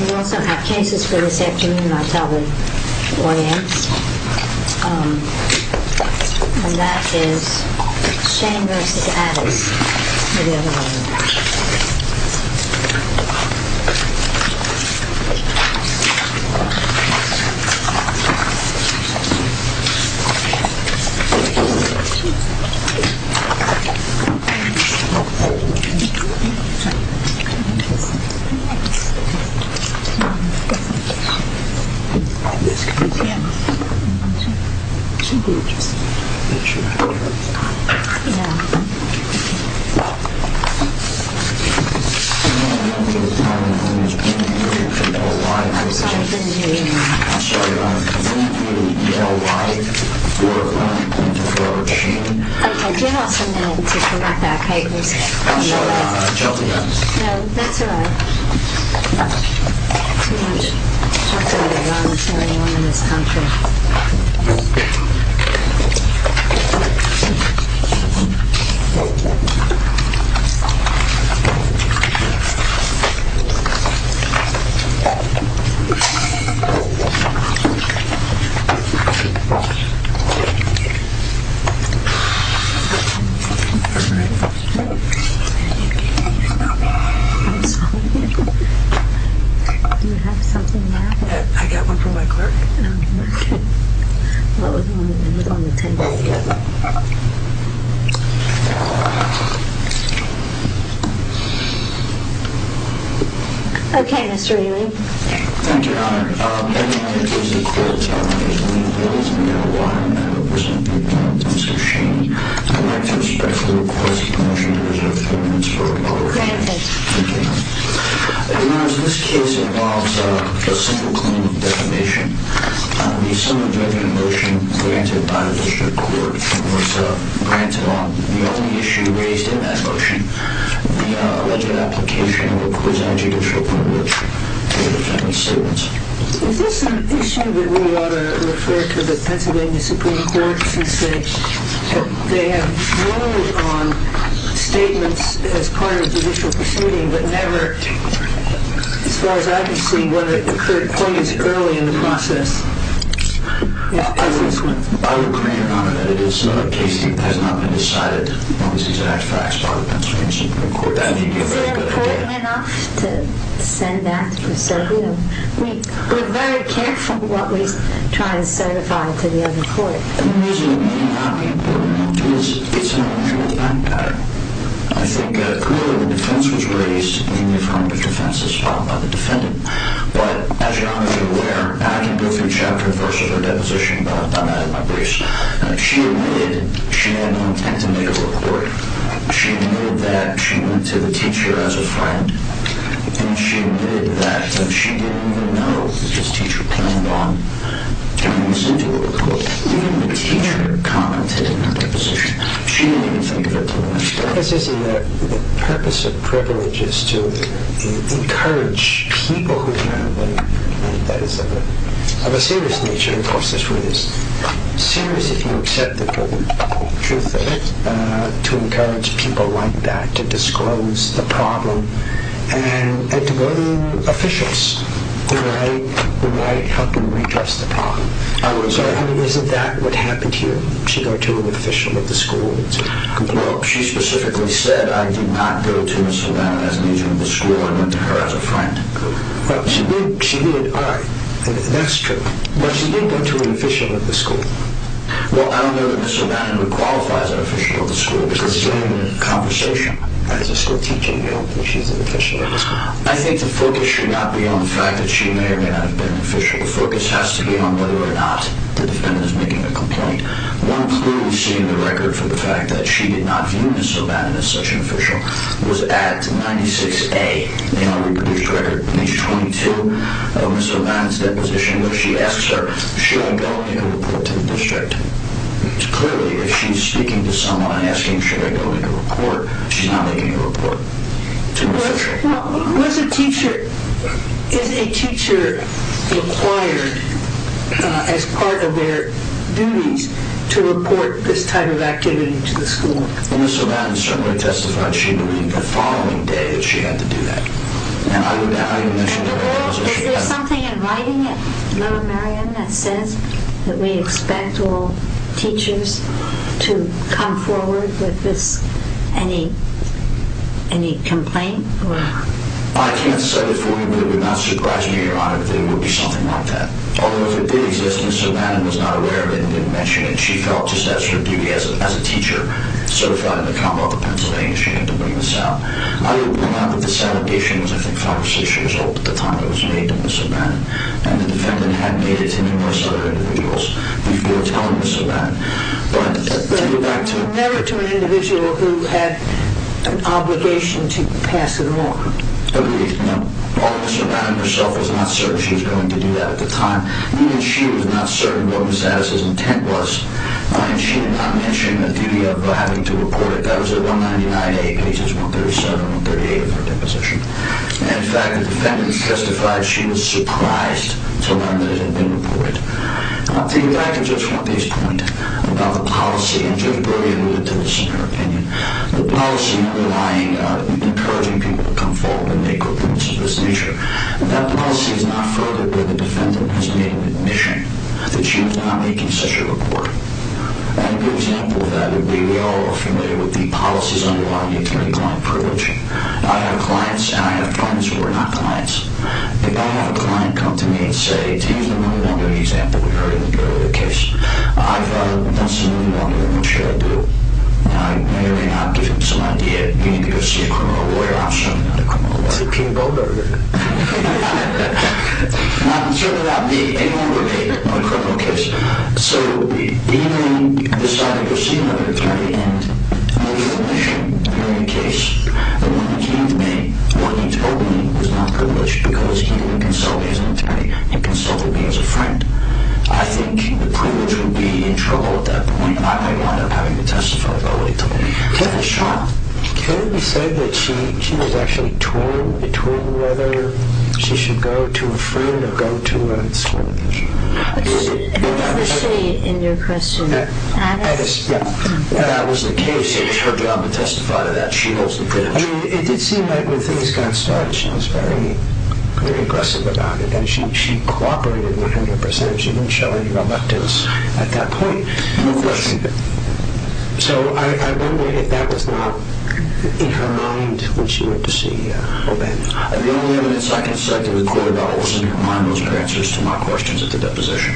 We also have cases for this afternoon, I'll tell the audience, and that is Shanne v. Addis. I'll show you our chocolate yarns. Okay, Mr. Ewing. We have a motion to approve the request of permission to reserve payments for a public hearing. This case involves a simple clinical defamation. The summary of the motion granted by the district court was granted on the only issue raised in that motion, the alleged application of a prison and judicial privilege for defending statements. Is this an issue that we ought to refer to the Pennsylvania Supreme Court, since they have ruled on statements as part of judicial proceeding, but never, as far as I can see, whether it occurred quite as early in the process as this one? I would pray, Your Honor, that it is not a case that has not been decided on this exact fact by the Pennsylvania Supreme Court. Is it important enough to send that through? We're very careful what we try to certify to the other court. The reason it may not be important enough is it's an unusual time pattern. I think clearly the defense was raised in the affirmative defense as filed by the defendant, but as Your Honor is aware, I can go through Chapter 1 of her deposition, but I'm going to add my briefs. She admitted she had no intent to make a report. She admitted that she went to the teacher as a friend, and she admitted that she didn't even know what this teacher planned on doing. She didn't listen to the report. Even the teacher commented in her deposition. She didn't even think of it. The purpose of privilege is to encourage people who can have money, and that is of a serious nature, of course, to encourage people like that to disclose the problem and to go to officials who might help them redress the problem. Isn't that what happened here? She go to an official of the school? No, she specifically said, I did not go to Mrs. O'Bannon as a teacher of the school. I went to her as a friend. She did. All right. That's true. But she did go to an official of the school. Well, I don't know that Mrs. O'Bannon would qualify as an official of the school. It's the same conversation. As a school teacher, you don't think she's an official of the school? I think the focus should not be on the fact that she may or may not have been an official. The focus has to be on whether or not the defendant is making a complaint. One clearly seen in the record for the fact that she did not view Mrs. O'Bannon as such an official was at 96A in our reproduced record. In page 22 of Mrs. O'Bannon's deposition where she asks her, should I go and make a report to the district? Clearly, if she's speaking to someone and asking should I go and make a report, she's not making a report to the district. Was a teacher, is a teacher required as part of their duties to report this type of activity to the school? Mrs. O'Bannon certainly testified she believed the following day that she had to do that. Is there something in writing that says that we expect all teachers to come forward with any complaint? I can't say that for you, but it would not surprise me or your honor that it would be something like that. Although if it did exist and Mrs. O'Bannon was not aware of it and didn't mention it, she felt just that sort of duty as a teacher certified in the Commonwealth of Pennsylvania that she had to bring this out. I will point out that the salutation was I think five or six years old at the time it was made to Mrs. O'Bannon and the defendant had made it to numerous other individuals before telling Mrs. O'Bannon. But never to an individual who had an obligation to pass it along. Agreed. Mrs. O'Bannon herself was not certain she was going to do that at the time. Even she was not certain what Mrs. Addis's intent was and she did not mention the duty of having to report it. That was at 199A, pages 137 and 138 of her deposition. In fact, the defendant testified she was surprised to learn that it had been reported. To get back to Judge Pompei's point about the policy, and Judge Berger alluded to this in her opinion, the policy not relying on encouraging people to come forward and make complaints of this nature, that policy is not furthered where the defendant has made an admission that she was not making such a report. A good example of that would be we all are familiar with the policies underlying attorney-client privilege. I have clients and I have clients who are not clients. If I have a client come to me and say, take the money laundering example we heard in the earlier case. I've done some money laundering. What should I do? I may or may not give him some idea. You need to go see a criminal lawyer. I'm sure I'm not a criminal lawyer. Is it King and Bell Berger? I'm not concerned about being anywhere near a criminal case. So even if you decide to go see another attorney and you're in the case, the one who came to me, what he told me was not privileged because he didn't consult me as an attorney. He consulted me as a friend. I think the privilege would be in trouble at that point. I may wind up having to testify about what he told me. Can it be said that she was actually torn between whether she should go to a friend or go to a school teacher? What did she say in your question? That was the case. It was her job to testify to that. She holds the privilege. It did seem like when things got started she was very aggressive about it. She cooperated 100%. She didn't show any reluctance at that point. So I wonder if that was not in her mind when she went to see O'Bannon. The only evidence I can cite to record that was in her mind was her answers to my questions at the deposition.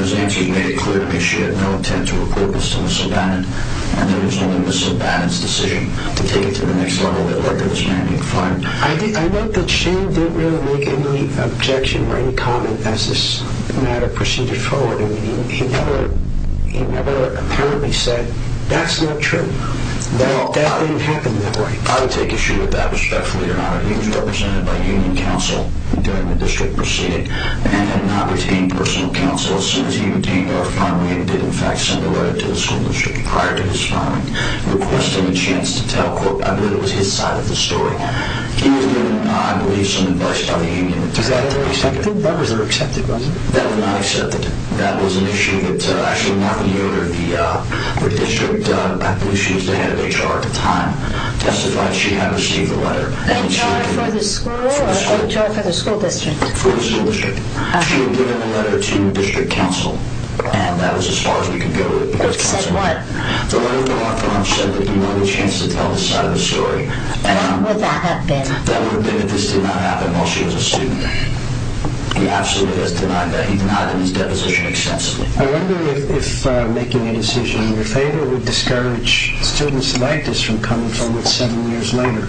Those answers made it clear to me she had no intent to report this to Ms. O'Bannon and that it was only Ms. O'Bannon's decision to take it to the next level, that Berger was going to be fined. I note that Shane didn't really make any objection or any comment as this matter proceeded forward. He never apparently said, that's not true. That didn't happen that way. I would take issue with that respectfully, Your Honor. He was represented by union counsel during the district proceeding and had not retained personal counsel as soon as he obtained our filing and did in fact send a letter to the school district prior to his filing requesting a chance to tell, quote, I believe it was his side of the story. He was given, I believe, some advice by the union. Was that ever accepted? That was never accepted, was it? That was not accepted. That was an issue that actually Martha Yoder, the district, I believe she was the head of HR at the time, testified she had received a letter. HR for the school or HR for the school district? For the school district. She had given a letter to district counsel and that was as far as we could go. It said what? The letter from our firm said that he wanted a chance to tell the side of the story. How would that have been? That would have been if this did not happen while she was a student. He absolutely has denied that. He denied it in his deposition extensively. I wonder if making a decision in your favor would discourage students like this from coming forward seven years later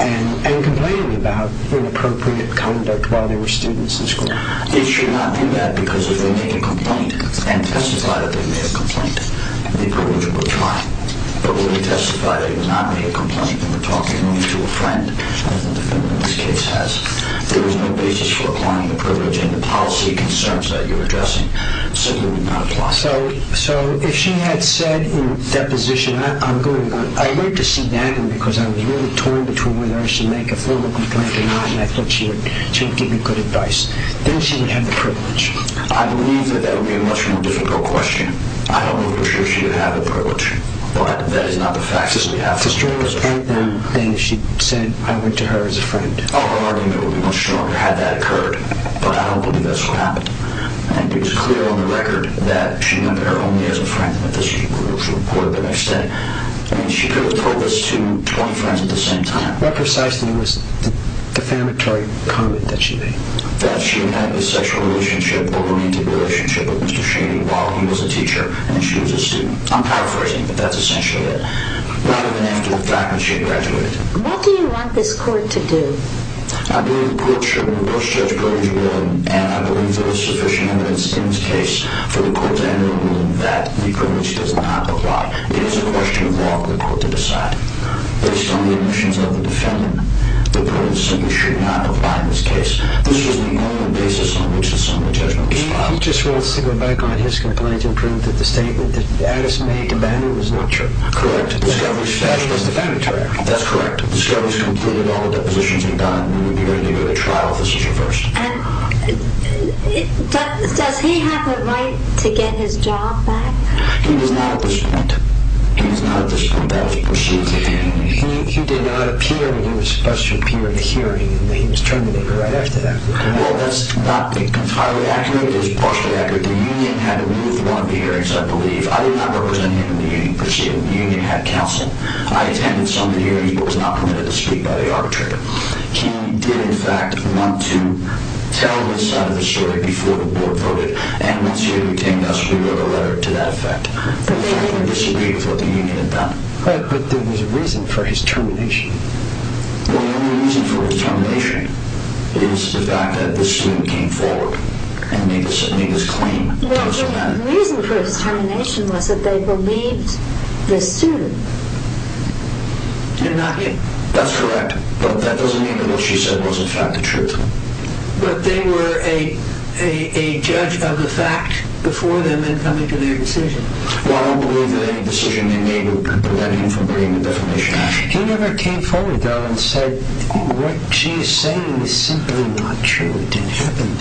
and complaining about inappropriate conduct while they were students in school. It should not do that because if they made a complaint and testified that they made a complaint, the approach would apply. But when they testified they did not make a complaint, they were talking only to a friend. I don't know if anyone in this case has. There is no basis for applying the privilege and the policy concerns that you're addressing simply would not apply. So if she had said in deposition, I'm going to wait to see that because I'm really torn between whether I should make a formal complaint or not and I thought she would give me good advice, then she would have the privilege. I believe that that would be a much more difficult question. I don't know for sure she would have the privilege. But that is not the fact. If it's true, then she said I went to her as a friend. Our argument would be much stronger had that occurred. But I don't believe that's what happened. And it's clear on the record that she knew her only as a friend. She could have told this to 20 friends at the same time. What precisely was the defamatory comment that she made? That she had a sexual relationship or romantic relationship with Mr. Shady while he was a teacher and she was a student. I'm paraphrasing, but that's essentially it. Not even after the time that she had graduated. What do you want this court to do? I believe the court should reverse Judge Brody's ruling and I believe there is sufficient evidence in this case for the court to enter a ruling that the privilege does not apply. It is a question of law for the court to decide. Based on the omissions of the defendant, the court simply should not apply in this case. This is the only basis on which the sum of judgment was filed. He just wants to go back on his complaint and prove that the statement that Addis made to Bannon was not true. Correct. That's just defamatory. That's correct. The scum has completed all the depositions he'd done and would be ready to go to trial if this was reversed. And does he have a right to get his job back? He does not at this point. He does not at this point. He did not appear when he was supposed to appear in the hearing. He was terminated right after that. Well, that's not entirely accurate. It is partially accurate. The union had to move one of the hearings, I believe. I did not represent him in the union proceeding. The union had counsel. I attended some of the hearings but was not permitted to speak by the arbitrator. He did, in fact, want to tell his side of the story before the board voted. And once he retained us, we wrote a letter to that effect. We disagreed with what the union had done. But there was a reason for his termination. The only reason for his termination is the fact that this student came forward and made this claim. The reason for his termination was that they believed this student. And not me. That's correct. But that doesn't mean that what she said was, in fact, the truth. But they were a judge of the fact before them in coming to their decision. He never came forward, though, and said what she is saying is simply not true. It didn't happen.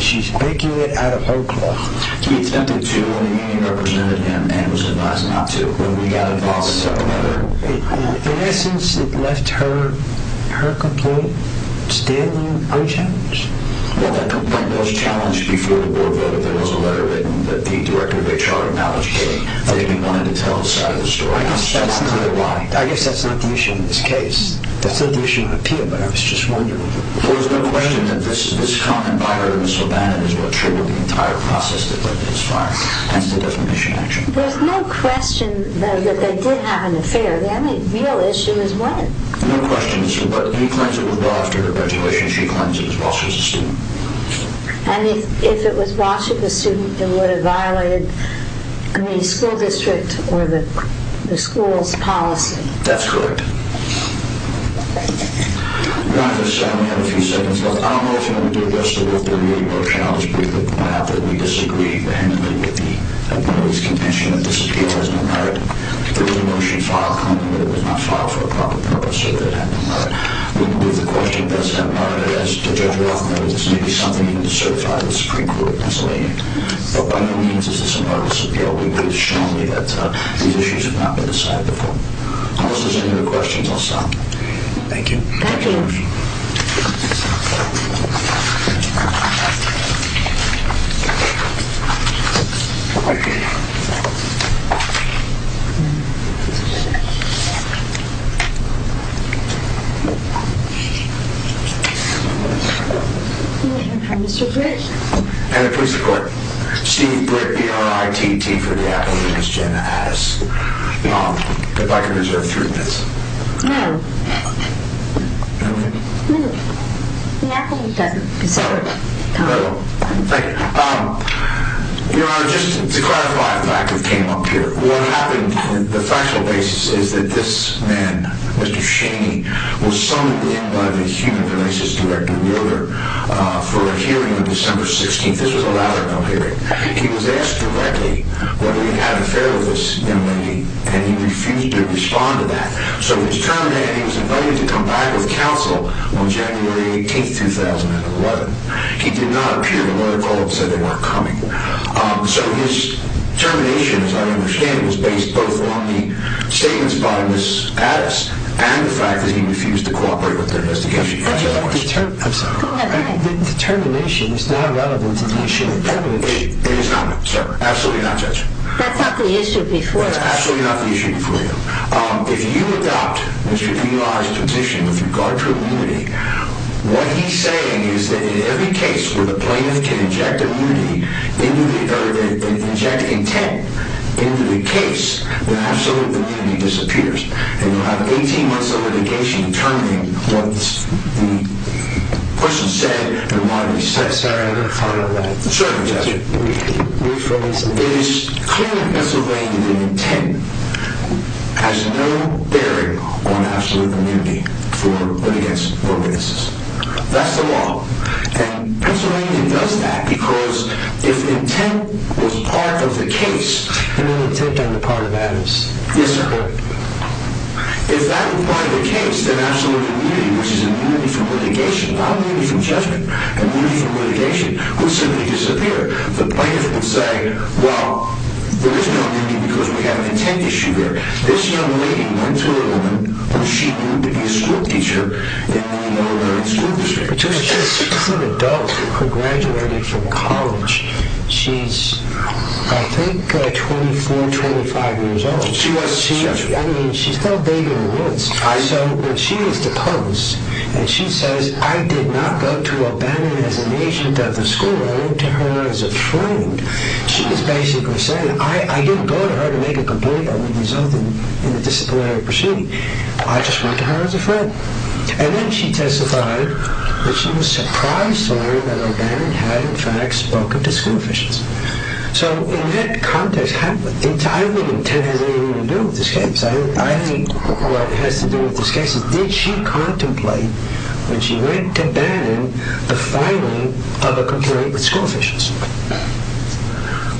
She's making it out of her claw. He attempted to when the union represented him and was advised not to. When we got involved, we sent a letter. In essence, it left her complaint standing unchallenged. Well, that complaint was challenged before the board voted. There was a letter written that the director of HR acknowledged. But they didn't want him to tell his side of the story. I guess that's not the issue in this case. That's not the issue with Peter, but I was just wondering. Well, there's no question that this comment by her and Ms. LeBannon is what triggered the entire process that led to this firing. Hence the defamation action. There's no question, though, that they did have an affair. The only real issue is when. No question. But he claims it was brought after her graduation. She claims it was while she was a student. And if it was while she was a student, it would have violated the school district or the school's policy. That's correct. We have a few seconds left. I don't know if you want to do the rest of the work. But really, we're challenged with the fact that we disagree. The handling of the appellee's contention that this appeal has no merit. There was a motion filed, but it was not filed for a proper purpose, so that had no merit. We believe the question does have merit. As Judge Roth knows, this may be something you need to certify to the Supreme Court. But by no means is this a meritorious appeal. We believe strongly that these issues have not been decided before. I will listen to the questions. I'll stop. Thank you. Thank you. Mr. Britt. Madam Prosecutor, Steve Britt, B-R-I-T-T, for the appellee. Ms. Jena asks if I can reserve three minutes. No. Okay. No. The appellee doesn't deserve time. Thank you. Your Honor, just to clarify the fact that we came up here. What happened, the factual basis is that this man, Mr. Shaney, was summoned in by the Human Relations Director, Miller, for a hearing on December 16th. This was a lateral hearing. He was asked directly whether he had an affair with this young lady, and he refused to respond to that. So he was terminated, and he was invited to come back with counsel on January 18th, 2011. He did not appear. The lawyer called and said they weren't coming. So his termination, as I understand it, was based both on the statements by Ms. Addis and the fact that he refused to cooperate with their investigation. I'm sorry. The termination is not relevant to the issue of privilege. It is not, sir. Absolutely not, Judge. That's not the issue before you. Absolutely not the issue before you. If you adopt Mr. Pila's position with regard to immunity, what he's saying is that in every case where the plaintiff can inject intent into the case, the absolute immunity disappears, and you'll have 18 months of litigation terminating what the person said and why he said it. Sorry, I didn't follow that. Certainly, Judge. Can you rephrase that? It is clear that Pennsylvania's intent has no bearing on absolute immunity for, but against, for witnesses. That's the law. And Pennsylvania does that because if intent was part of the case... And then intent on the part of Addis. Yes, sir. If that were part of the case, then absolute immunity, which is immunity from litigation, not immunity from judgment, immunity from litigation, would simply disappear. The plaintiff would say, well, there is no immunity because we have an intent issue here. This young lady went to a woman who she knew to be a schoolteacher in the Illinois School District. But she's an adult. She graduated from college. She's, I think, 24, 25 years old. I mean, she's still a baby in her woods. So when she is deposed and she says, I did not go to O'Bannon as an agent of the school. I went to her as a friend. She is basically saying, I didn't go to her to make a complaint that would result in a disciplinary proceeding. I just went to her as a friend. And then she testified that she was surprised to learn that O'Bannon had, in fact, spoken to school officials. So in that context, I don't think the intent has anything to do with this case. I think what has to do with this case is, did she contemplate when she went to O'Bannon the filing of a complaint with school officials?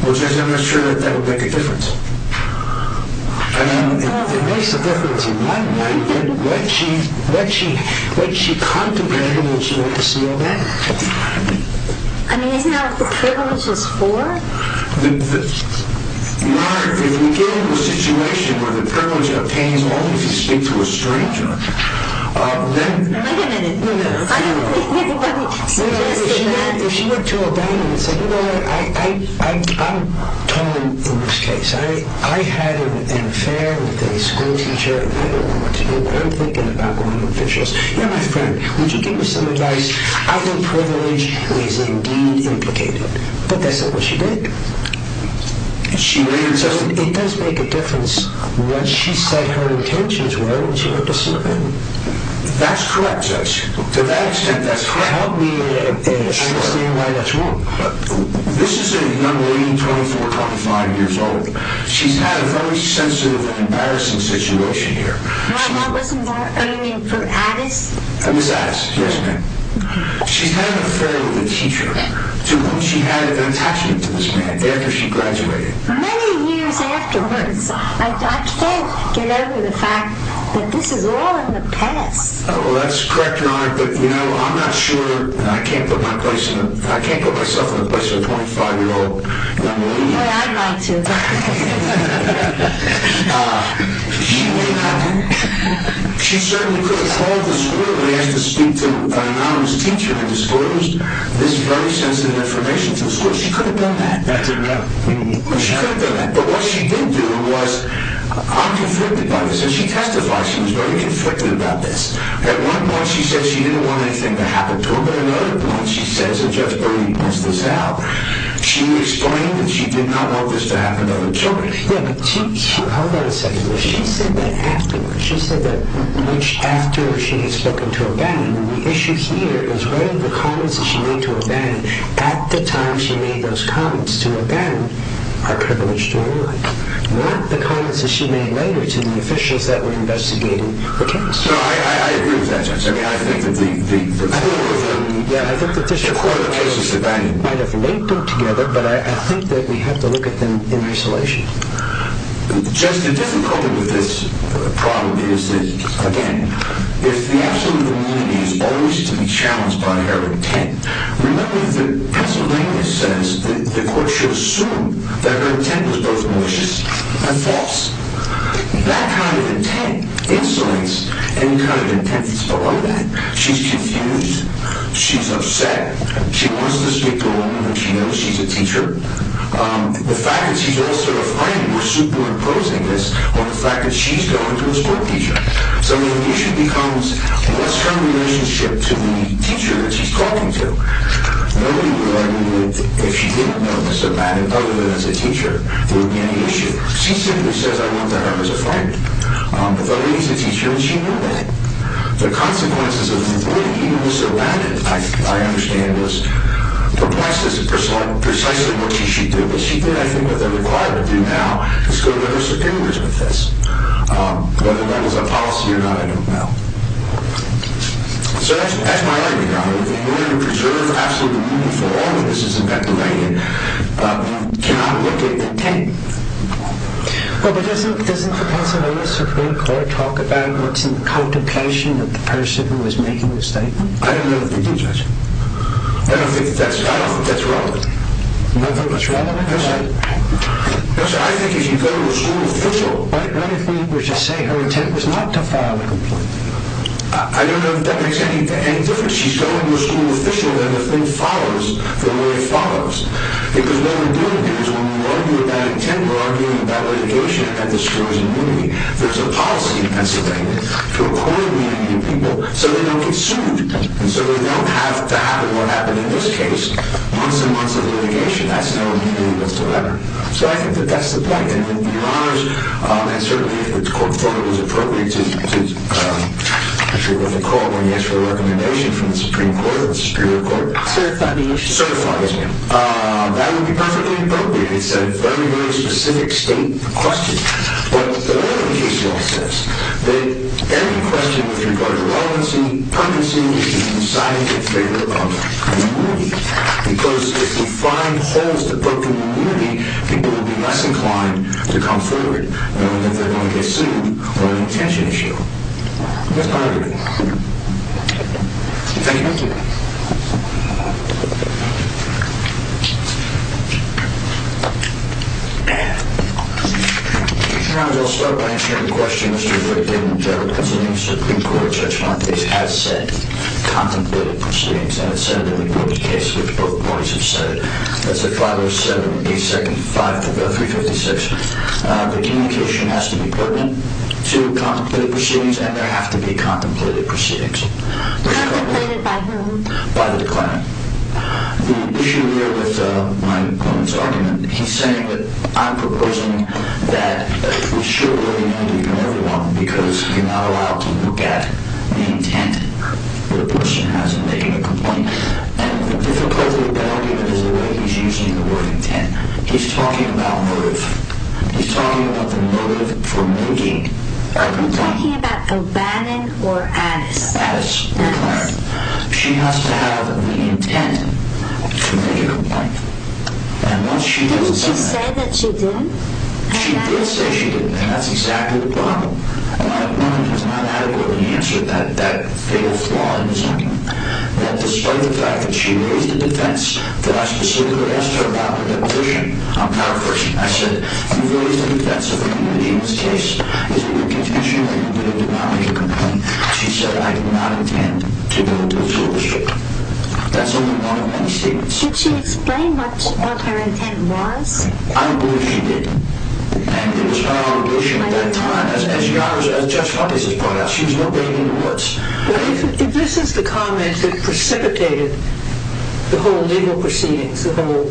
Well, I'm just not sure that that would make a difference. I mean, it makes a difference in my mind. But what she contemplated when she went to see O'Bannon. I mean, isn't that what the privilege is for? If we get into a situation where the privilege obtains only if you speak to a stranger, then... Wait a minute. I don't think anybody suggested that. If she went to O'Bannon and said, you know what, I'm tone in this case. I had an affair with a school teacher. I don't know what to do. I'm thinking about going to officials. You're my friend. Would you give me some advice? I think privilege is indeed implicated. But that's not what she did. She later suggested... It does make a difference what she said her intentions were when she went to see O'Bannon. That's correct, Judge. To that extent, that's correct. Help me understand why that's wrong. This is a young lady, 24, 25 years old. She's had a very sensitive, embarrassing situation here. My mom wasn't there. Are you meaning for Addis? Miss Addis, yes, ma'am. She's had an affair with a teacher to whom she had an attachment to this man after she graduated. Many years afterwards. I can't get over the fact that this is all in the past. Well, that's correct, Your Honor. But, you know, I'm not sure. I can't put myself in the place of a 25-year-old. The way I'd like to. Ah, she would have... She certainly could have called the school and asked to speak to an anonymous teacher and disclosed this very sensitive information to the school. She could have done that. That's enough. She could have done that. But what she didn't do was... I'm conflicted by this. And she testified she was very conflicted about this. At one point, she said she didn't want anything to happen to her. But at another point, she says, and Judge Bernie points this out, she explained that she did not want this to happen to other children. Yeah, but she... Hold on a second. She said that afterwards. She said that after she had spoken to O'Bannon, and the issue here is whether the comments that she made to O'Bannon at the time she made those comments to O'Bannon are privileged or not. Not the comments that she made later to the officials that were investigating the case. No, I agree with that, Judge. I mean, I think that the... I think that the... might have linked them together, but I think that we have to look at them in isolation. Just the difficulty with this problem is that, again, if the absolute immunity is always to be challenged by her intent, remember that Pennsylvania says that the court should assume that her intent was both malicious and false. That kind of intent insulates any kind of intent that's below that. She's confused. She's upset. She wants this to be gone when she knows she's a teacher. The fact that she's also a friend, we're superimposing this on the fact that she's going to a school teacher. So the issue becomes, what's her relationship to the teacher that she's talking to? Nobody would argue that if she didn't know Mr. O'Bannon, other than as a teacher, there would be any issue. She simply says, I went to her as a friend. If only she was a teacher and she knew that. The consequences of the way he was surrounded, I understand, is precisely what she should do. But she did, I think, what they're required to do now, is go to other superiors with this. Whether that was a policy or not, I don't know. So that's my argument on it. In order to preserve absolute immunity for all witnesses in Pennsylvania, you cannot look at the intent. Well, but doesn't the Pennsylvania Supreme Court talk about what's in the contemplation of the person who was making the statement? I don't know if they do, Judge. I don't think that's relevant. You don't think it's relevant? No, sir. I think if you go to a school official... What if we were to say her intent was not to file a complaint? I don't know if that makes any difference. She's going to a school official and the thing follows the way it follows. Because what we're doing here is when we argue about intent, we're arguing about litigation. That destroys immunity. There's a policy in Pennsylvania to avoid meeting new people so they don't get sued. And so we don't have to have what happened in this case months and months of litigation. That's no immunity whatsoever. So I think that that's the point. And it would be an honor, and certainly if the court thought it was appropriate, to issue a recommendation from the Supreme Court, the Superior Court. Certify the issue? Certify the issue. That would be perfectly appropriate. It's a very, very specific state question. But the way the case law says, that any question with regard to relevancy, permanency is decided in favor of immunity. Because if we find holes that broker immunity, people will be less inclined to come forward knowing that they're going to get sued on an intention issue. That's my argument. Thank you. Thank you. Your Honor, I'll start by answering a question. Mr. Franklin, the general consulting Supreme Court Judge Montes has said contemplative proceedings, and has said that in the group's case, which both parties have said, that's at 507-825-356, the communication has to be pertinent to contemplative proceedings, and there have to be contemplative proceedings. Contemplated by whom? By the client. The issue here with my opponent's argument, he's saying that I'm proposing that we should remove immunity from everyone because you're not allowed to look at the intent that a person has in making a complaint. And the difficulty with that argument is the way he's using the word intent. He's talking about motive. He's talking about the motive for making a complaint. You're talking about O'Bannon or Addis? Addis, your client. She has to have the intent to make a complaint. Didn't she say that she didn't? She did say she didn't, and that's exactly the problem. My opponent has not adequately answered that fatal flaw in his argument. That despite the fact that she raised a defense, that I specifically asked her about her deposition, I'm paraphrasing. I said, you've raised a defense of an indigenous case. Is it your intention that you're going to do not make a complaint? And she said, I do not intend to go to a school district. That's only one of many statements. Did she explain what her intent was? I don't believe she did. And it was her obligation at that time, as Judge Fontes has pointed out, she was nobody in the courts. If this is the comment that precipitated the whole legal proceedings, the whole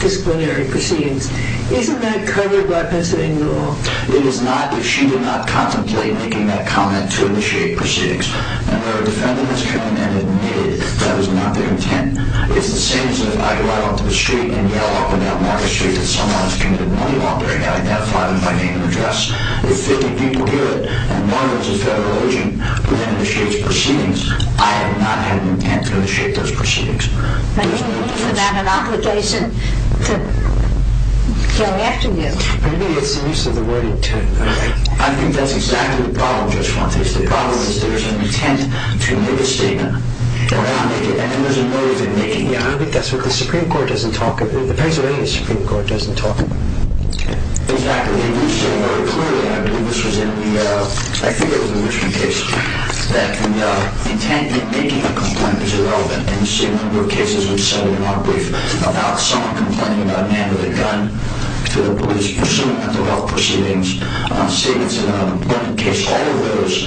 disciplinary proceedings, isn't that covered by Pennsylvania law? It is not if she did not contemplate making that comment to initiate proceedings. And where a defendant has come in and admitted that was not their intent, it's the same as if I go out onto the street and yell up and down Market Street that someone has committed a money laundering, having that file in my name and address. If 50 people hear it, and one is a federal agent who then initiates proceedings, I have not had an intent to initiate those proceedings. But isn't that an obligation to come after you? Maybe it's the use of the word intent. I think that's exactly the problem, Judge Fontes. The problem is there's an intent to make a statement, and there's a motive in making it. Yeah, I think that's what the Pennsylvania Supreme Court doesn't talk about. Exactly. You said very clearly, I believe this was in the, I think it was in the Richmond case, that the intent in making a complaint is irrelevant, and the same number of cases were cited in our brief about someone complaining about a man with a gun to the police pursuing mental health proceedings, on statements in a burning case, all of those,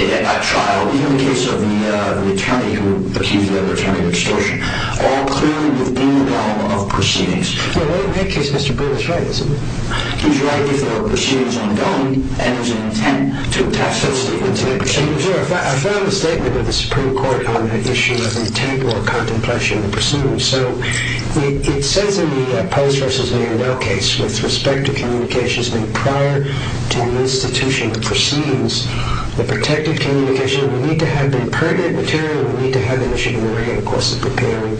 at that trial, even the case of the attorney who accused the other attorney of extortion, all clearly within the realm of proceedings. Well, in that case, Mr. Brewer is right, isn't he? He's right if there are proceedings ongoing, and there's an intent to attach that statement to the proceedings. I found the statement of the Supreme Court on the issue of intangible contemplation of the proceedings. So, it says in the Pulse v. Manuel case, with respect to communications made prior to the institution of proceedings, the protected communication, we need to have impertinent material, we need to have an issue in the ring, of course, of preparing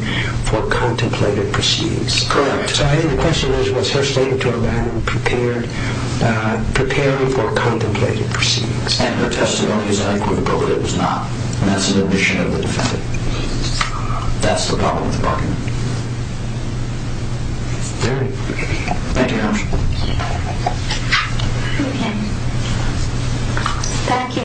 for contemplated proceedings. Correct. So, I think the question is, was her statement to a man preparing for contemplated proceedings? And her testimony is adequately appropriate, it was not, and that's an admission of the defendant. That's the problem with the bargain. Thank you. Thank you.